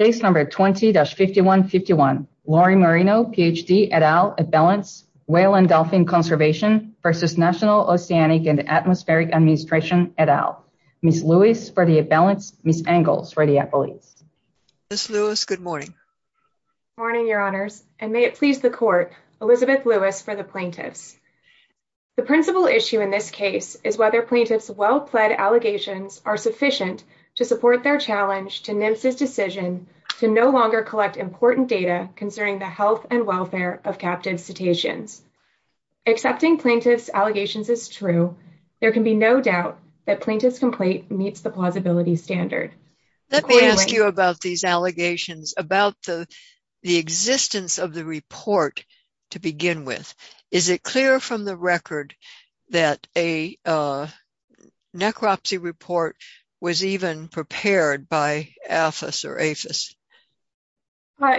Case No. 20-5151, Lori Marino, Ph.D., et al., At Balance, Whale and Dolphin Conservation v. National Oceanic and Atmospheric Administration, et al. Ms. Lewis, for the At Balance, Ms. Engels, for the Appellees. Ms. Lewis, good morning. Good morning, Your Honors, and may it please the Court, Elizabeth Lewis for the Plaintiffs. The principal issue in this case is whether plaintiffs' well-pled allegations are sufficient to support their challenge to NMSA's decision to no longer collect important data concerning the health and welfare of captive cetaceans. Accepting plaintiffs' allegations is true. There can be no doubt that plaintiffs' complaint meets the plausibility standard. Let me ask you about these allegations, about the existence of the report to begin with. Is it clear from the record that a necropsy report was even prepared by AFIS or AFIS?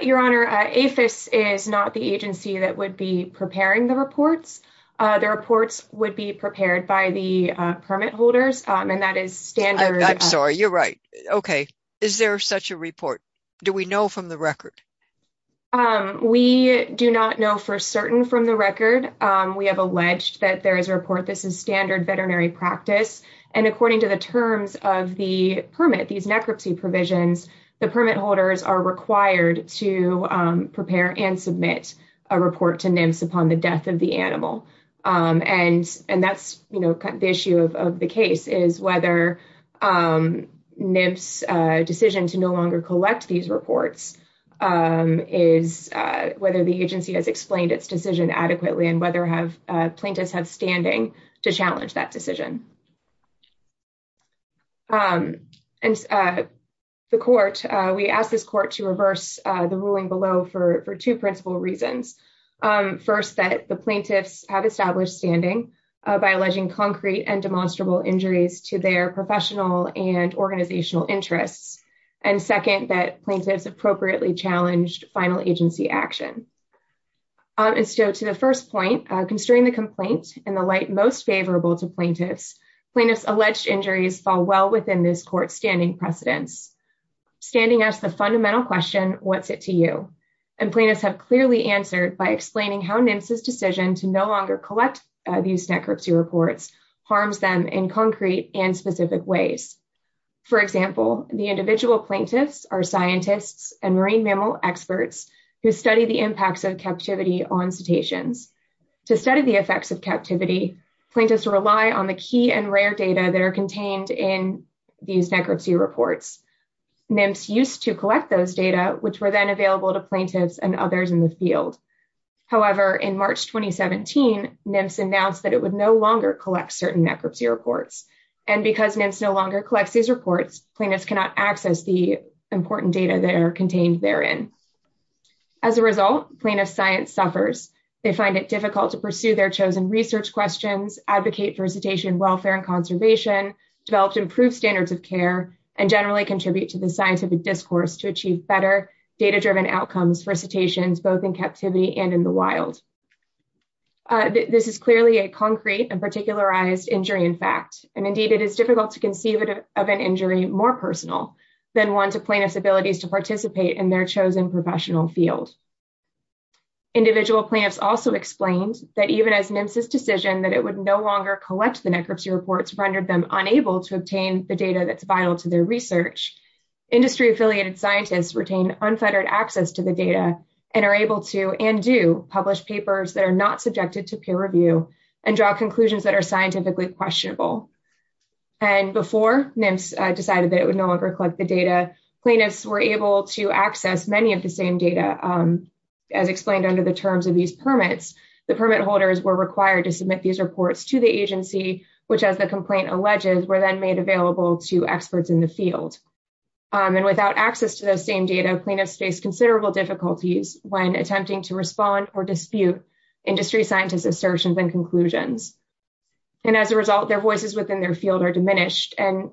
Your Honor, AFIS is not the agency that would be preparing the reports. The reports would be prepared by the permit holders, and that is standard. I'm sorry. You're right. Okay. Is there such a report? Do we know from the record? We do not know for certain from the record. We have alleged that there is a report. This is standard veterinary practice, and according to the terms of the permit, these necropsy provisions, the permit holders are required to prepare and submit a report to NMSA upon the death of the animal, and that's the issue of the case, is whether NMSA's decision to no longer collect these reports is whether the agency has explained its decision adequately and whether plaintiffs have standing to challenge that decision. And the court, we asked this court to reverse the ruling below for two principal reasons. First, that the plaintiffs have established standing by alleging concrete and demonstrable injuries to their professional and organizational interests, and second, that plaintiffs appropriately challenged final agency action. And so to the first point, constrain the complaint in the light most favorable to plaintiffs. Plaintiffs' alleged injuries fall well within this court's standing precedence. Standing asks the fundamental question, what's it to you? And plaintiffs have clearly answered by explaining how NMSA's decision to no longer collect these necropsy reports harms them in concrete and specific ways. For example, the individual plaintiffs are scientists and marine mammal experts who study the impacts of captivity on cetaceans. To study the effects of captivity, plaintiffs rely on the key and rare data that are contained in these necropsy reports. NMSA used to collect those data, which were then available to plaintiffs and others in the field. However, in March 2017, NMSA announced that it would no longer collect certain necropsy reports. And because NMSA no longer collects these reports, plaintiffs cannot access the important data that are contained therein. As a result, plaintiffs' science suffers. They find it difficult to pursue their chosen research questions, advocate for cetacean welfare and conservation, develop improved standards of care, and generally contribute to the scientific discourse to achieve better data-driven outcomes for cetaceans, both in captivity and in the wild. This is clearly a concrete and particularized injury in fact, and indeed it is difficult to conceive of an injury more personal than one to plaintiffs' abilities to participate in their chosen professional field. Individual plaintiffs also explained that even as NMSA's decision that it would no longer collect the necropsy reports rendered them unable to obtain the data that's vital to their research, industry-affiliated scientists retain unfettered access to the data and are able to, and do, publish papers that are not subjected to peer review and draw conclusions that are scientifically questionable. And before NMSA decided that it would no longer collect the data, plaintiffs were able to access many of the same data. As explained under the terms of these permits, the permit holders were required to submit these reports to the agency, which as the complaint alleges, were then made available to experts in the field. And without access to those same data, plaintiffs face considerable difficulties when attempting to respond or dispute industry scientists' assertions and conclusions. And as a result, their voices within their field are diminished, and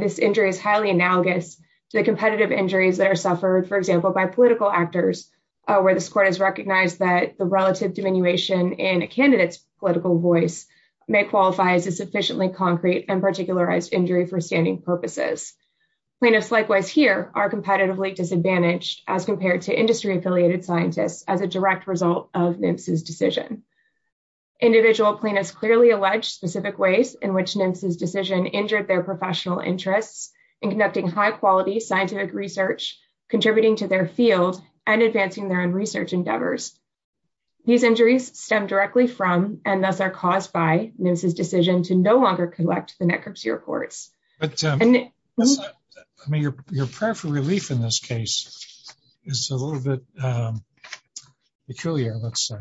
this injury is highly analogous to the competitive injuries that are suffered, for example, by political actors where this court has recognized that the relative diminution in a candidate's political voice may qualify as a sufficiently concrete and particularized injury for standing purposes. Plaintiffs likewise here are competitively disadvantaged as compared to industry-affiliated scientists as a direct result of NMSA's decision. Individual plaintiffs clearly allege specific ways in which NMSA's decision injured their professional interests in conducting high-quality scientific research, contributing to their field, and advancing their own research endeavors. These injuries stem directly from, and thus are caused by, NMSA's decision to no longer collect the net curfew reports. But, Tim, I mean, your prayer for relief in this case is a little bit peculiar, let's say.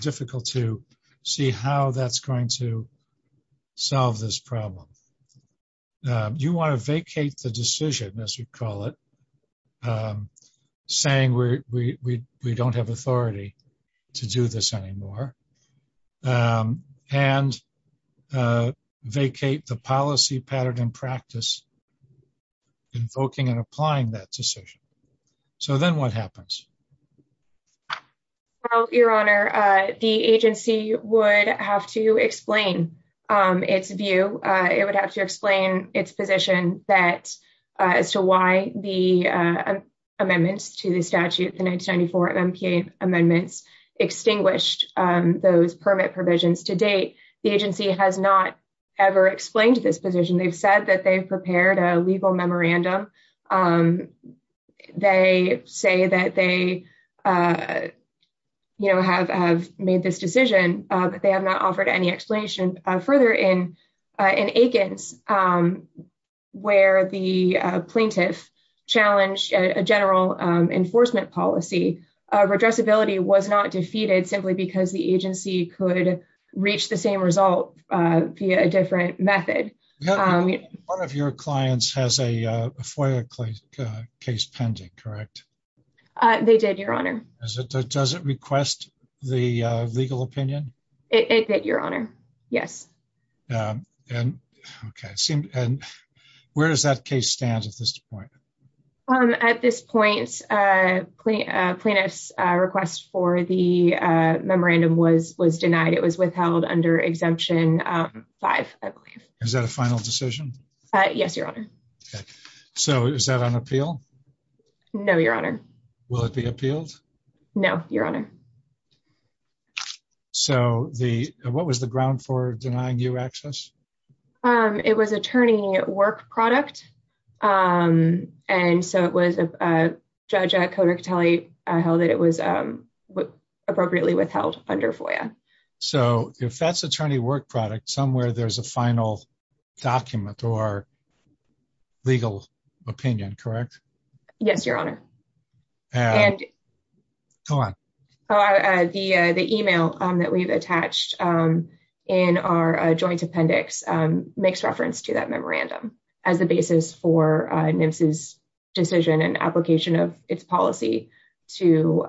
Difficult to see how that's going to solve this problem. You want to vacate the decision, as we'd call it, saying we don't have authority. To do this anymore. And vacate the policy pattern and practice invoking and applying that decision. So then what happens? Well, Your Honor, the agency would have to explain its view. It would have to explain its position as to why the amendments to the statute, the 1994 MPA amendments, extinguished those permit provisions. To date, the agency has not ever explained this position. They've said that they've prepared a legal memorandum. They say that they have made this decision, but they have not offered any explanation. Further, in Aikens, where the plaintiff challenged a general enforcement policy, redressability was not defeated simply because the agency could reach the same result via a different method. One of your clients has a FOIA case pending, correct? They did, Your Honor. Does it request the legal opinion? It did, Your Honor. Yes. Where does that case stand at this point? At this point, a plaintiff's request for the memorandum was denied. It was withheld under Exemption 5, I believe. Is that a final decision? Yes, Your Honor. So is that on appeal? No, Your Honor. Will it be appealed? No, Your Honor. So what was the ground for denying you access? It was attorney work product. And so it was a judge at Kodak Tally held that it was appropriately withheld under FOIA. So if that's attorney work product, somewhere there's a final document or legal opinion, correct? Yes, Your Honor. Go on. The email that we've attached in our joint appendix makes reference to that memorandum as the basis for NMFS's decision and application of its policy to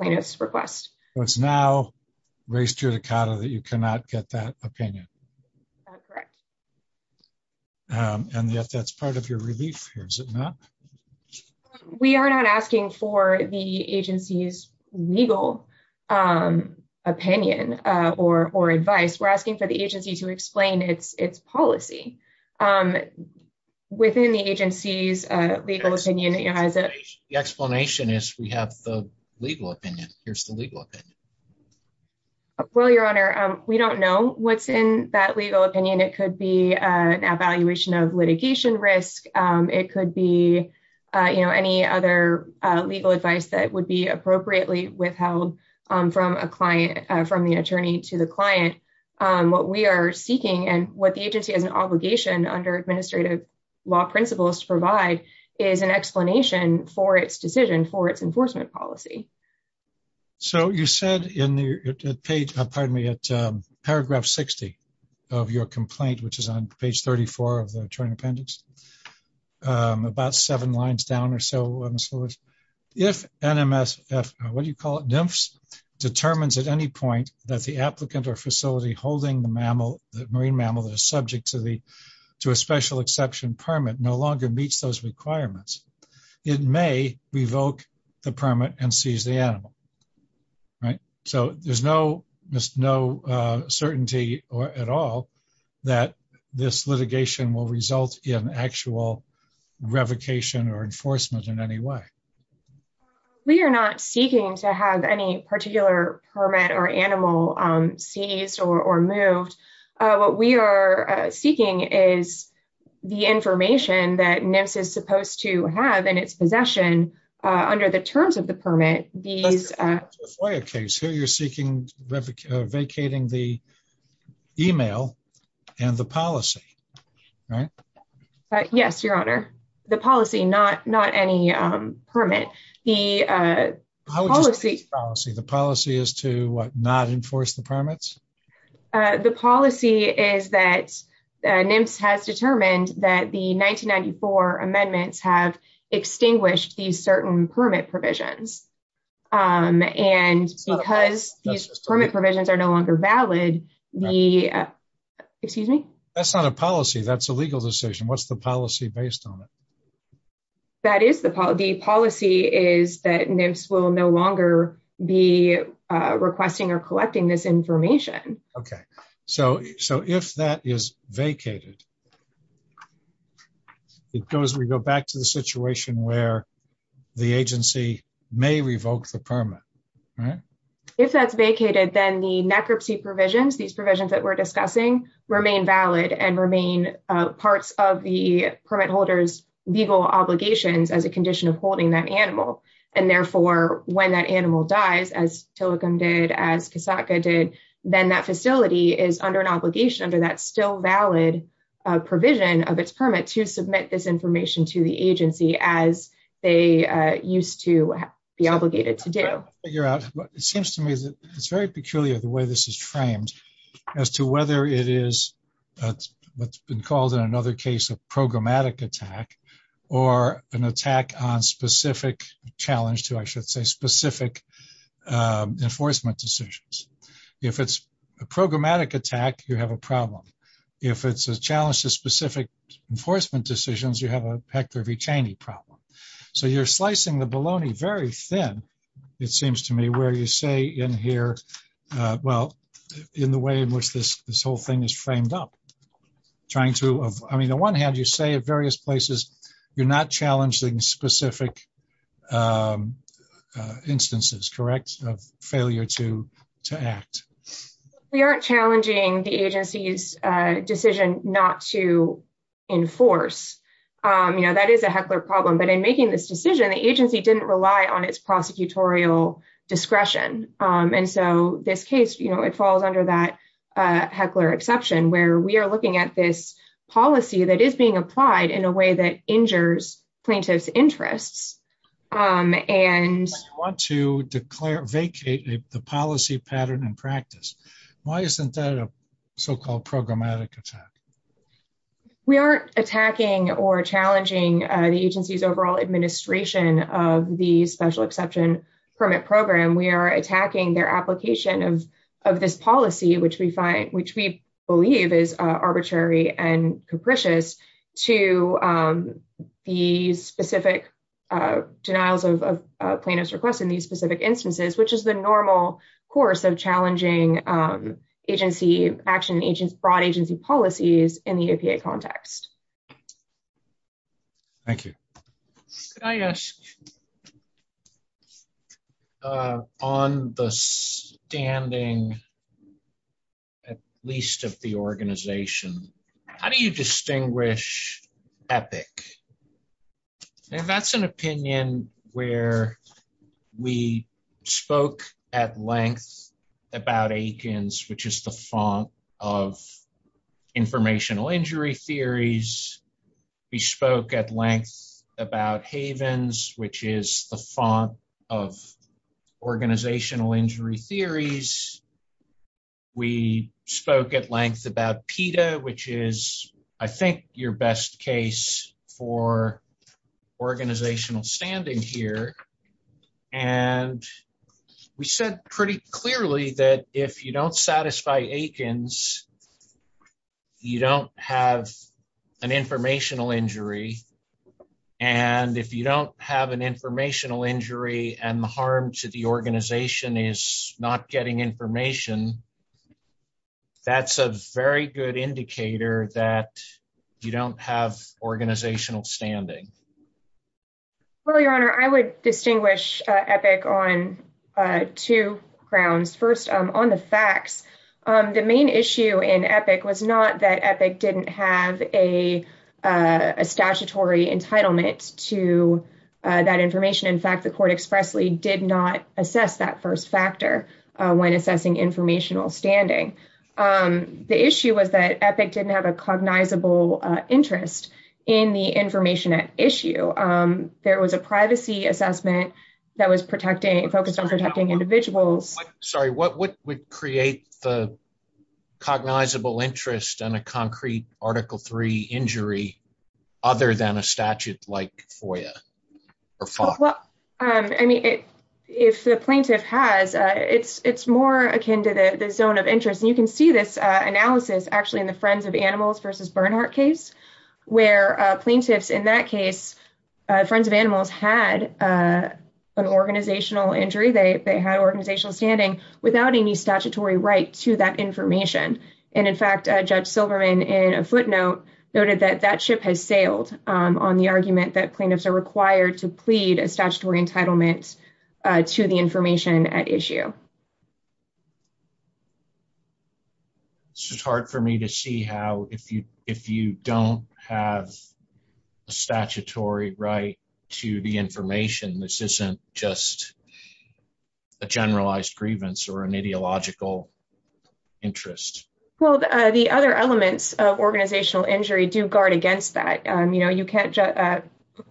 plaintiff's request. So it's now raised to your decada that you cannot get that opinion? That's correct. And yet that's part of your relief here, is it not? We are not asking for the agency's legal opinion or advice. We're asking for the agency to explain its policy within the agency's legal opinion. The explanation is we have the legal opinion. Here's the legal opinion. Well, Your Honor, we don't know what's in that legal opinion. It could be an evaluation of litigation risk. It could be any other legal advice that would be appropriately withheld from a client, from the attorney to the client. What we are seeking and what the agency has an obligation under administrative law principles to provide is an explanation for its decision, for its enforcement policy. So you said in the page, pardon me, at paragraph 60 of your complaint, which is on page 34 of the joint appendix, about seven lines down or so on the slides, if NMSF, what do you call it? NMFS, determines at any point that the applicant or facility holding the mammal, the marine mammal that is subject to a special exception permit no longer meets those requirements. It may revoke the permit and seize the animal, right? So there's no certainty at all that this litigation will result in actual revocation or enforcement in any way. We are not seeking to have any particular permit or animal seized or moved. What we are seeking is the information that NMSF is supposed to have in its possession under the terms of the permit, these- That's a FOIA case. So you're seeking, vacating the email and the policy, right? Yes, your honor. The policy, not any permit. How would you state the policy? The policy is to what, not enforce the permits? The policy is that NMSF has determined that the 1994 amendments have extinguished these certain permit provisions. And because these permit provisions are no longer valid, the, excuse me? That's not a policy. That's a legal decision. What's the policy based on it? That is the policy. The policy is that NMSF will no longer be requesting or collecting this information. Okay. So if that is vacated, it goes, we go back to the situation where the agency may revoke the permit, right? If that's vacated, then the necropsy provisions, these provisions that we're discussing, remain valid and remain parts of the permit holders' legal obligations as a condition of holding that animal. And therefore, when that animal dies, as Tilikum did, as Kasatka did, then that facility is under an obligation under that still valid provision of its permit to submit this information to the agency as they used to be obligated to do. I'm trying to figure out. It seems to me that it's very peculiar the way this is framed as to whether it is what's been called in another case a programmatic attack or an attack on specific challenge to, I should say, specific enforcement decisions. If it's a programmatic attack, you have a problem. If it's a challenge to specific enforcement decisions, you have a Hector V. Cheney problem. So you're slicing the bologna very thin, it seems to me, where you say in here, well, in the way in which this whole thing is framed up, trying to, I mean, on one hand, you say at various places, you're not challenging specific instances, correct, of failure to act. We aren't challenging the agency's decision not to enforce. You know, that is a heckler problem. But in making this decision, the agency didn't rely on its prosecutorial discretion. And so this case, you know, it falls under that heckler exception where we are looking at this policy that is being applied in a way that injures plaintiff's interests. And you want to declare, vacate the policy pattern and practice. Why isn't that a so-called programmatic attack? We aren't attacking or challenging the agency's overall administration of the special exception permit program. We are attacking their application of this policy, which we find, which we believe is arbitrary and capricious to the specific denials of plaintiff's request in these specific instances, which is the normal course of challenging agency, action agents, broad agency policies in the EPA context. Thank you. Could I ask, on the standing, at least of the organization, how do you distinguish EPIC? And that's an opinion where we spoke at length about Aikens, which is the font of informational injury theories. We spoke at length about Havens, which is the font of organizational injury theories. We spoke at length about PETA, which is, I think, your best case for organizational standing here. And we said pretty clearly that if you don't satisfy Aikens, you don't have an informational injury. And if you don't have an informational injury and the harm to the organization is not getting information, that's a very good indicator that you don't have organizational standing. Well, Your Honor, I would distinguish EPIC on two grounds. First, on the facts, the main issue in EPIC was not that EPIC didn't have a statutory entitlement to that information. In fact, the court expressly did not assess that first factor when assessing informational standing. The issue was that EPIC didn't have a cognizable interest in the information at issue. There was a privacy assessment that was focused on protecting individuals. Sorry, what would create the cognizable interest on a concrete Article III injury other than a statute like FOIA? I mean, if the plaintiff has, it's more akin to the zone of interest. And you can see this analysis actually in the Friends of Animals versus Bernhardt case where plaintiffs in that case, Friends of Animals had an organizational injury. They had organizational standing without any statutory right to that information. And in fact, Judge Silverman in a footnote noted that that ship has sailed on the argument that plaintiffs are required to have a statutory right to the information. This isn't just a generalized grievance or an ideological interest. Well, the other elements of organizational injury do guard against that.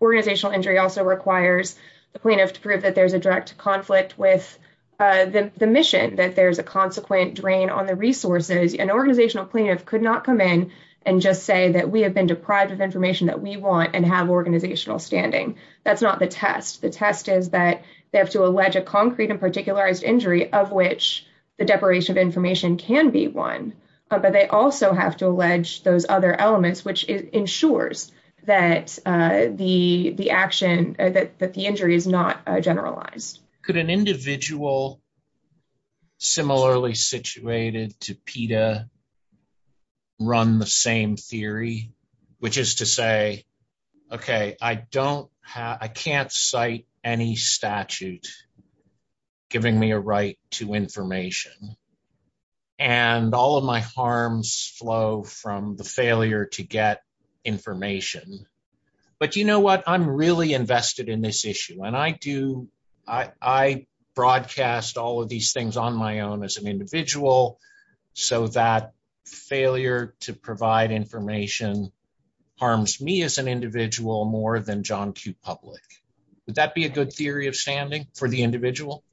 Organizational injury also requires the plaintiff to prove that the mission, that there's a consequent drain on the resources. An organizational plaintiff could not come in and just say that we have been deprived of information that we want and have organizational standing. That's not the test. The test is that they have to allege a concrete and particularized injury of which the deprivation of information can be one. But they also have to allege those other elements, which ensures that the injury is not generalized. Could an individual similarly situated to PETA run the same theory? Which is to say, okay, I can't cite any statute giving me a right to information. And all of my harms flow from the failure to get information. But you know what? I'm really invested in this issue. And I do, I broadcast all of these things on my own as an individual. So that failure to provide information harms me as an individual more than John Q. Public. Would that be a good theory of standing for the individual?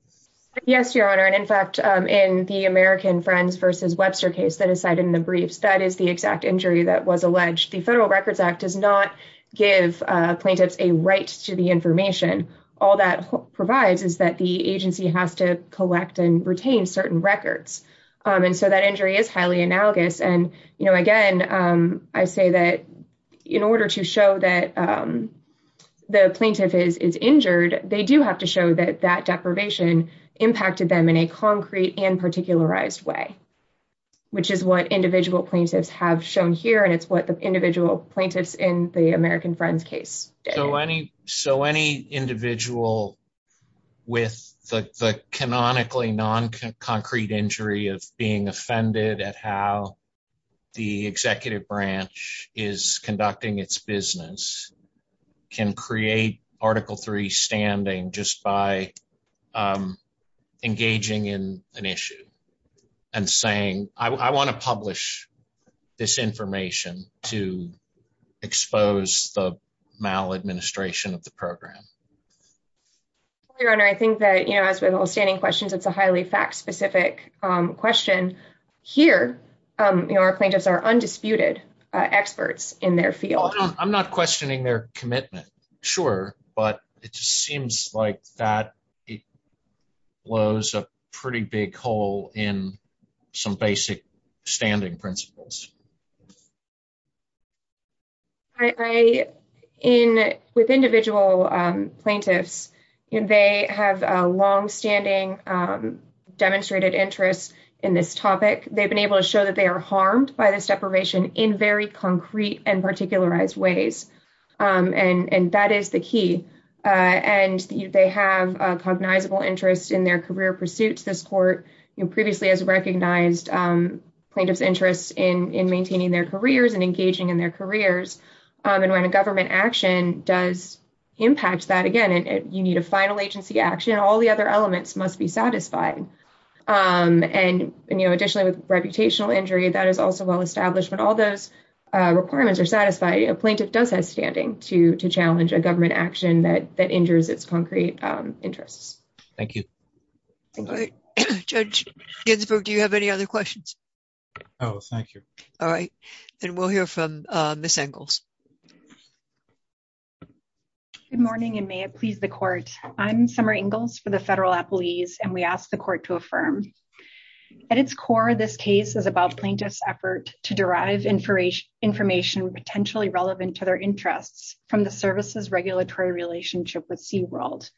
Yes, Your Honor. And in fact, in the American Friends versus Webster case that is cited in the briefs, that is the exact injury that was alleged. The Federal Records Act does not give plaintiffs a right to the information. All that provides is that the agency has to collect and retain certain records. And so that injury is highly analogous. And again, I say that in order to show that the plaintiff is injured, they do have to show that that deprivation impacted them in a concrete and particularized way. Which is what individual plaintiffs have shown here. And it's what the individual plaintiffs in the American Friends case. So any individual with the canonically non-concrete injury of being offended at how the executive branch is conducting its business can create Article III standing just by engaging in an issue and saying, I want to publish this information to expose the maladministration of the program. Your Honor, I think that, you know, as with all standing questions, it's a highly fact-specific question. Here, you know, our plaintiffs are undisputed experts in their field. I'm not questioning their commitment. Sure. But it just seems like that it blows a pretty big hole in some basic standing principles. I, in with individual plaintiffs, and they have a longstanding demonstrated interest in this topic. They've been able to show that they are harmed by this deprivation in very concrete and particularized ways. And that is the key. And they have a cognizable interest in their career pursuits. This court previously has recognized plaintiff's interest in maintaining their careers and engaging in their careers. And when a government action does impact that again, and you need a final agency action, all the other elements must be satisfied. And, you know, additionally, with reputational injury, that is also well established. But all those requirements are satisfied. A plaintiff does have standing to challenge a government action that injures its concrete interests. Thank you. Judge Ginsburg, do you have any other questions? Oh, thank you. All right. And we'll hear from Ms. Engels. Good morning, and may it please the court. I'm Summer Engels for the federal appellees, and we ask the court to affirm. At its core, this case is about plaintiff's effort to derive information potentially relevant to their interests from the services regulatory relationship with SeaWorld.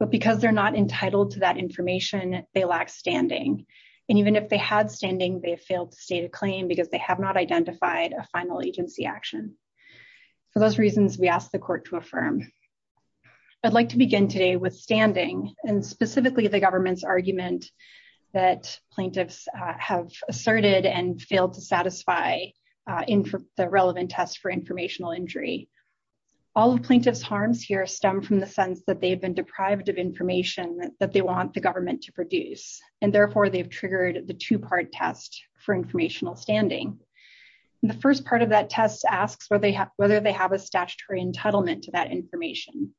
But because they're not entitled to that information, they lack standing. And even if they had standing, they failed to state a claim because they have not identified a final agency action. For those reasons, we ask the court to affirm. I'd like to begin today with standing, and specifically the government's argument that plaintiffs have asserted and failed to satisfy the relevant test for informational injury. All of plaintiff's harms here stem from the sense that they've been deprived of information that they want the government to produce. And therefore, they've triggered the two-part test for informational standing. The first part of that test asks whether they have a statutory entitlement to that information.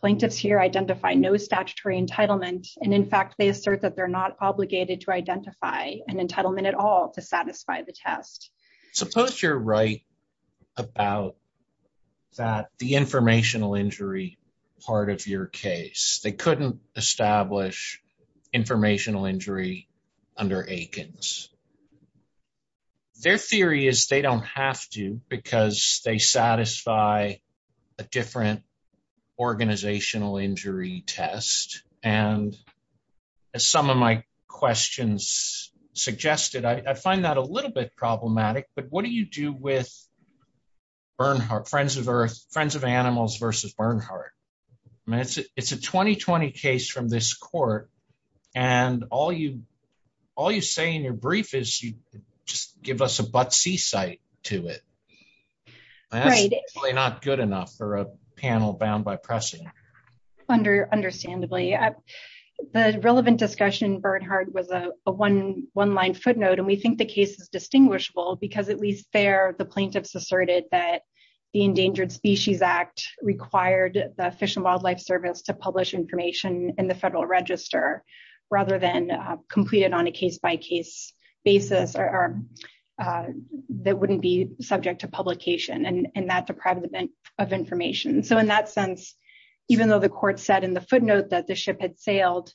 Plaintiffs here identify no statutory entitlement. And in fact, they assert that they're not obligated to identify an entitlement at all to satisfy the test. Suppose you're right about the informational injury part of your case. They couldn't establish informational injury under Aikens. Their theory is they don't have to because they satisfy a different organizational injury test. And as some of my questions suggested, I find that a little bit problematic. But what do you do with Friends of Earth, Friends of Animals versus Bernhardt? I mean, it's a 2020 case from this court. And all you say in your brief is you just give us a but-see site to it. And that's probably not good enough for a panel bound by pressing. Understandably. The relevant discussion in Bernhardt was a one-line footnote. And we think the case is distinguishable because at least there, the plaintiffs asserted that the Endangered Species Act required the Fish and Wildlife Service to publish information in the Federal Register rather than complete it on a case-by-case basis that wouldn't be subject to publication. And that deprived them of information. So in that sense, even though the court said in the footnote that the ship had sailed,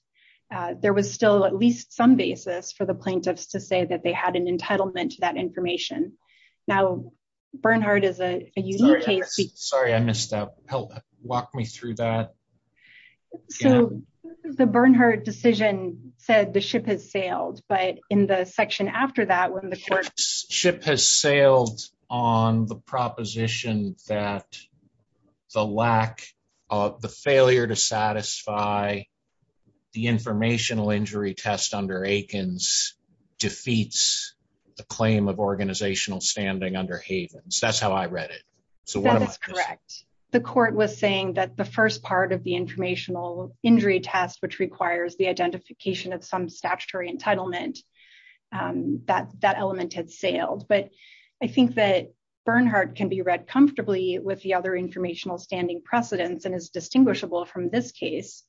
there was still at least some basis for the plaintiffs to say that they had an entitlement to that information. Now, Bernhardt is a unique case. Sorry, I missed that. Help walk me through that. So the Bernhardt decision said the ship has sailed. But in the section after that, when the court... Ship has sailed on the proposition that the lack of the failure to satisfy the informational injury test under Aikens defeats the claim of organizational standing under Havens. That's how I read it. So that's correct. The court was saying that the first part of the informational injury test, which requires the identification of some statutory entitlement, that element had sailed. But I think that Bernhardt can be read comfortably with the other informational standing precedents and is distinguishable from this case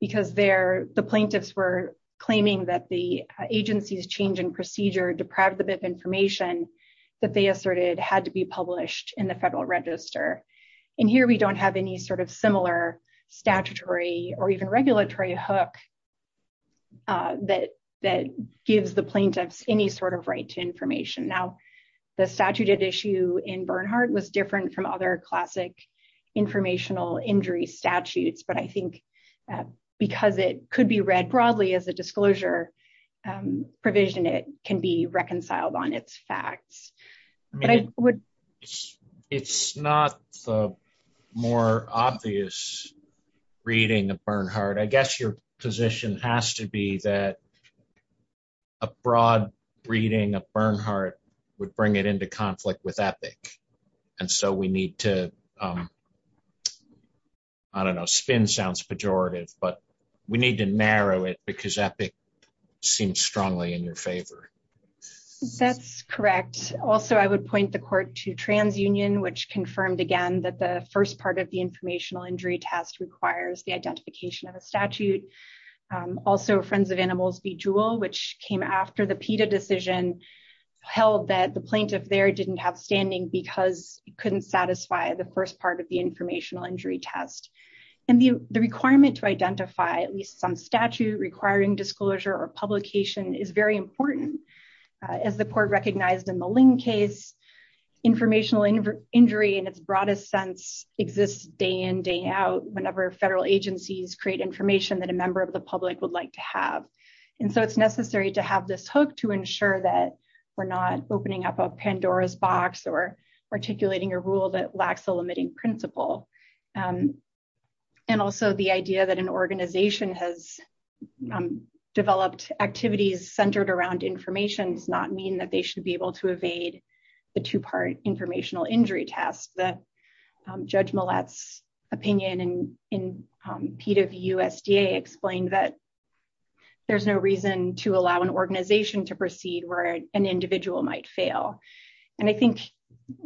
because the plaintiffs were claiming that the agency's change in procedure deprived them of information that they asserted had to be published in the Federal Register. And here we don't have any sort of similar statutory or even regulatory hook that gives the plaintiffs any sort of right to information. Now, the statute at issue in Bernhardt was different from other classic informational injury statutes. But I think because it could be read broadly as a disclosure provision, it can be reconciled on its facts. I mean, it's not the more obvious reading of Bernhardt. I guess your position has to be that a broad reading of Bernhardt would bring it into conflict with Epic. And so we need to, I don't know, spin sounds pejorative, but we need to narrow it because Epic seems strongly in your favor. That's correct. Also, I would point the court to TransUnion, which confirmed again that the first part of the informational injury test requires the identification of a statute. Also, Friends of Animals v. Jewel, which came after the PETA decision, held that the plaintiff there didn't have standing because it couldn't satisfy the first part of the informational injury test. is very important. As the court recognized in the Ling case, informational injury in its broadest sense exists day in, day out, whenever federal agencies create information that a member of the public would like to have. And so it's necessary to have this hook to ensure that we're not opening up a Pandora's box or articulating a rule that lacks a limiting principle. And also, the idea that an organization has developed activities centered around information does not mean that they should be able to evade the two-part informational injury test. The Judge Millett's opinion in PETA v. USDA explained that there's no reason to allow an organization to proceed where an individual might fail. And I think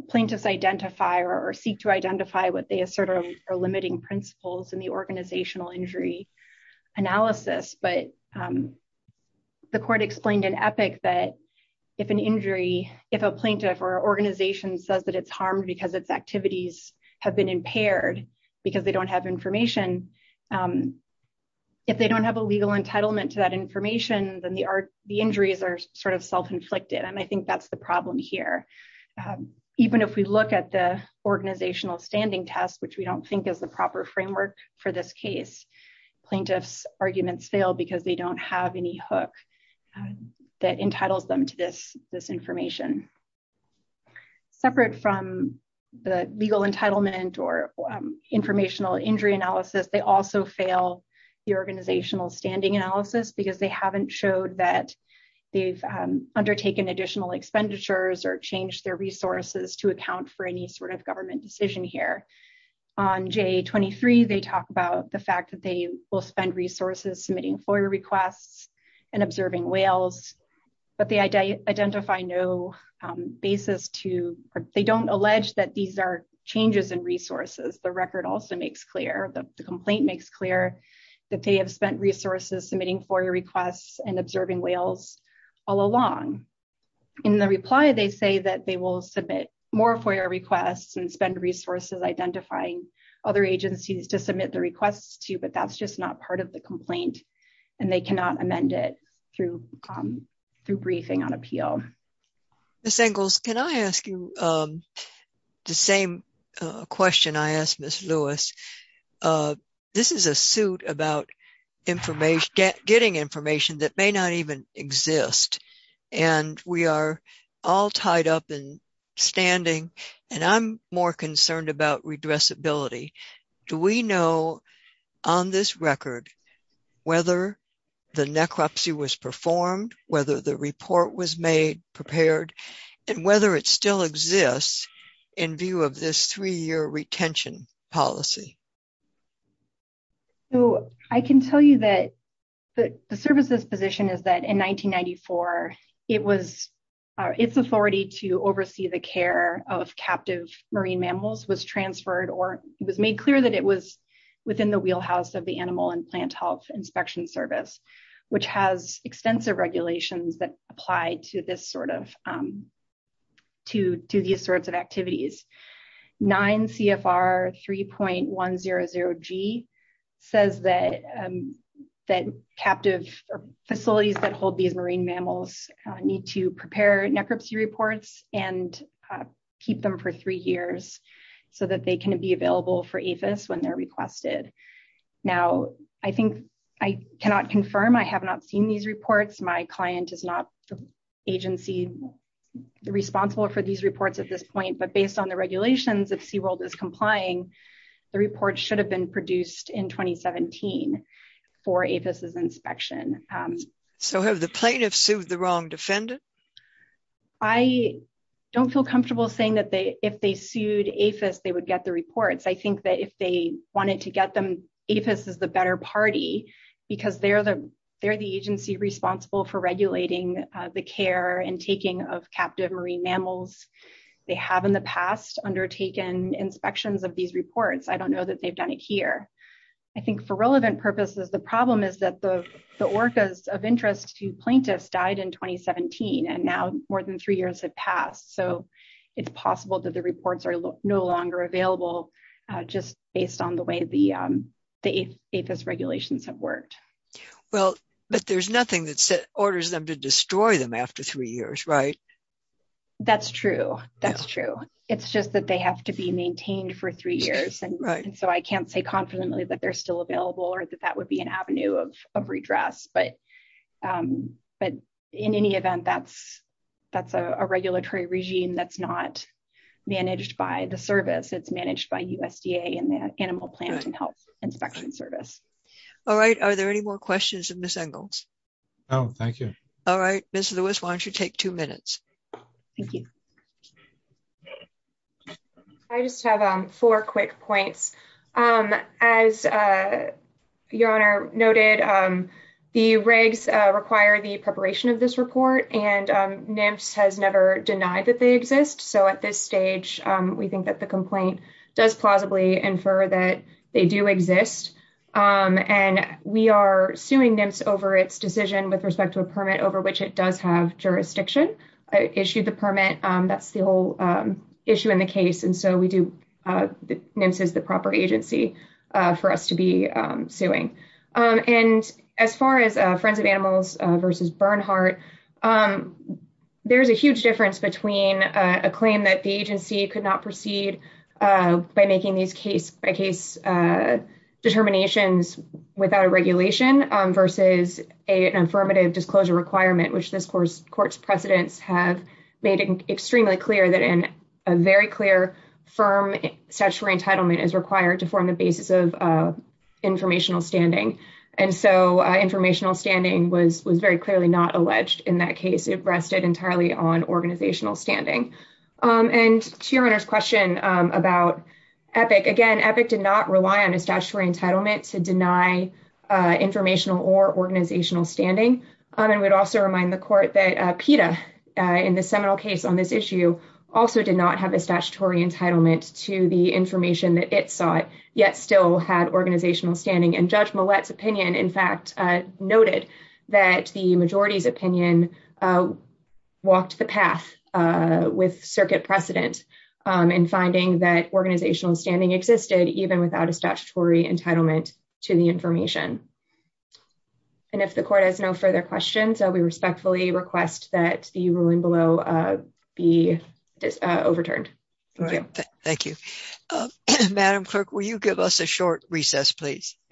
plaintiffs identify or seek to identify what they assert are limiting principles in the organizational injury analysis. But the court explained in Epic that if an injury, if a plaintiff or organization says that it's harmed because its activities have been impaired, because they don't have information, if they don't have a legal entitlement to that information, then the injuries are sort of self-inflicted. And I think that's the problem here. Even if we look at the organizational standing test, which we don't think is the proper framework for this case, plaintiffs' arguments fail because they don't have any hook that entitles them to this information. Separate from the legal entitlement or informational injury analysis, they also fail the organizational expenditures or change their resources to account for any sort of government decision here. On JA23, they talk about the fact that they will spend resources submitting FOIA requests and observing whales, but they identify no basis to, they don't allege that these are changes in resources. The record also makes clear, the complaint makes clear that they have spent resources submitting FOIA requests and observing whales all along. In the reply, they say that they will submit more FOIA requests and spend resources identifying other agencies to submit the requests to, but that's just not part of the complaint, and they cannot amend it through briefing on appeal. Ms. Engels, can I ask you the same question I asked Ms. Lewis? This is a suit about getting information that may not even exist. And we are all tied up and standing, and I'm more concerned about redressability. Do we know, on this record, whether the necropsy was performed, whether the report was made, prepared, and whether it still exists in view of this three-year retention policy? So, I can tell you that the service's position is that in 1994, it was, its authority to oversee the care of captive marine mammals was transferred, or it was made clear that it was within the wheelhouse of the Animal and Plant Health Inspection Service, which has extensive regulations that apply to this sort of, to these sorts of activities. 9 CFR 3.100G says that captive facilities that hold these marine mammals need to prepare necropsy reports and keep them for three years so that they can be available for APHIS when they're requested. Now, I think, I cannot confirm, I have not seen these reports. My client is not the agency responsible for these reports at this point, but based on the regulations, if SeaWorld is complying, the report should have been produced in 2017 for APHIS's inspection. So, have the plaintiffs sued the wrong defendant? I don't feel comfortable saying that if they sued APHIS, they would get the reports. I think that if they wanted to get them, APHIS is the better party because they're the agency responsible for regulating the care and taking of captive marine mammals. They have in the past undertaken inspections of these reports. I don't know that they've done it here. I think for relevant purposes, the problem is that the orcas of interest to plaintiffs died in 2017, and now more than three years have passed. So, it's possible that the reports are no longer available just based on the way the APHIS regulations have worked. Well, but there's nothing that orders them to destroy them after three years, right? That's true. That's true. It's just that they have to be maintained for three years, and so I can't say confidently that they're still available or that that would be an avenue of redress. But in any event, that's a regulatory regime that's not managed by the service. It's managed by USDA and the Animal, Plant, and Health Inspection Service. All right. Are there any more questions of Ms. Engels? No, thank you. All right. Ms. Lewis, why don't you take two minutes? Thank you. I just have four quick points. As your Honor noted, the regs require the preparation of this report, and NIMS has never denied that they exist. So, at this stage, we think that the complaint does plausibly infer that they do exist, and we are suing NIMS over its decision with respect to a permit over which it does have jurisdiction. I issued the permit. That's the whole issue in the case, and so NIMS is the proper agency for us to be suing. And as far as Friends of Animals versus Bernhardt, there's a huge difference between a claim that the agency could not proceed by making these case-by-case determinations without a regulation versus an affirmative disclosure requirement, which this Court's precedents have made extremely clear that a very clear, firm statutory entitlement is required to form the basis of informational standing. And so, informational standing was very clearly not alleged in that case. It rested entirely on organizational standing. And to your Honor's question about EPIC, again, EPIC did not rely on a statutory entitlement to deny informational or organizational standing, and we'd also remind the Court that PETA, in the seminal case on this issue, also did not have a statutory entitlement to the information that it sought, yet still had organizational standing. And Judge Millett's opinion, in fact, noted that the majority's opinion walked the path with circuit precedent in finding that organizational standing existed even without a statutory entitlement to the information. And if the Court has no further questions, I respectfully request that the ruling below be overturned. Thank you.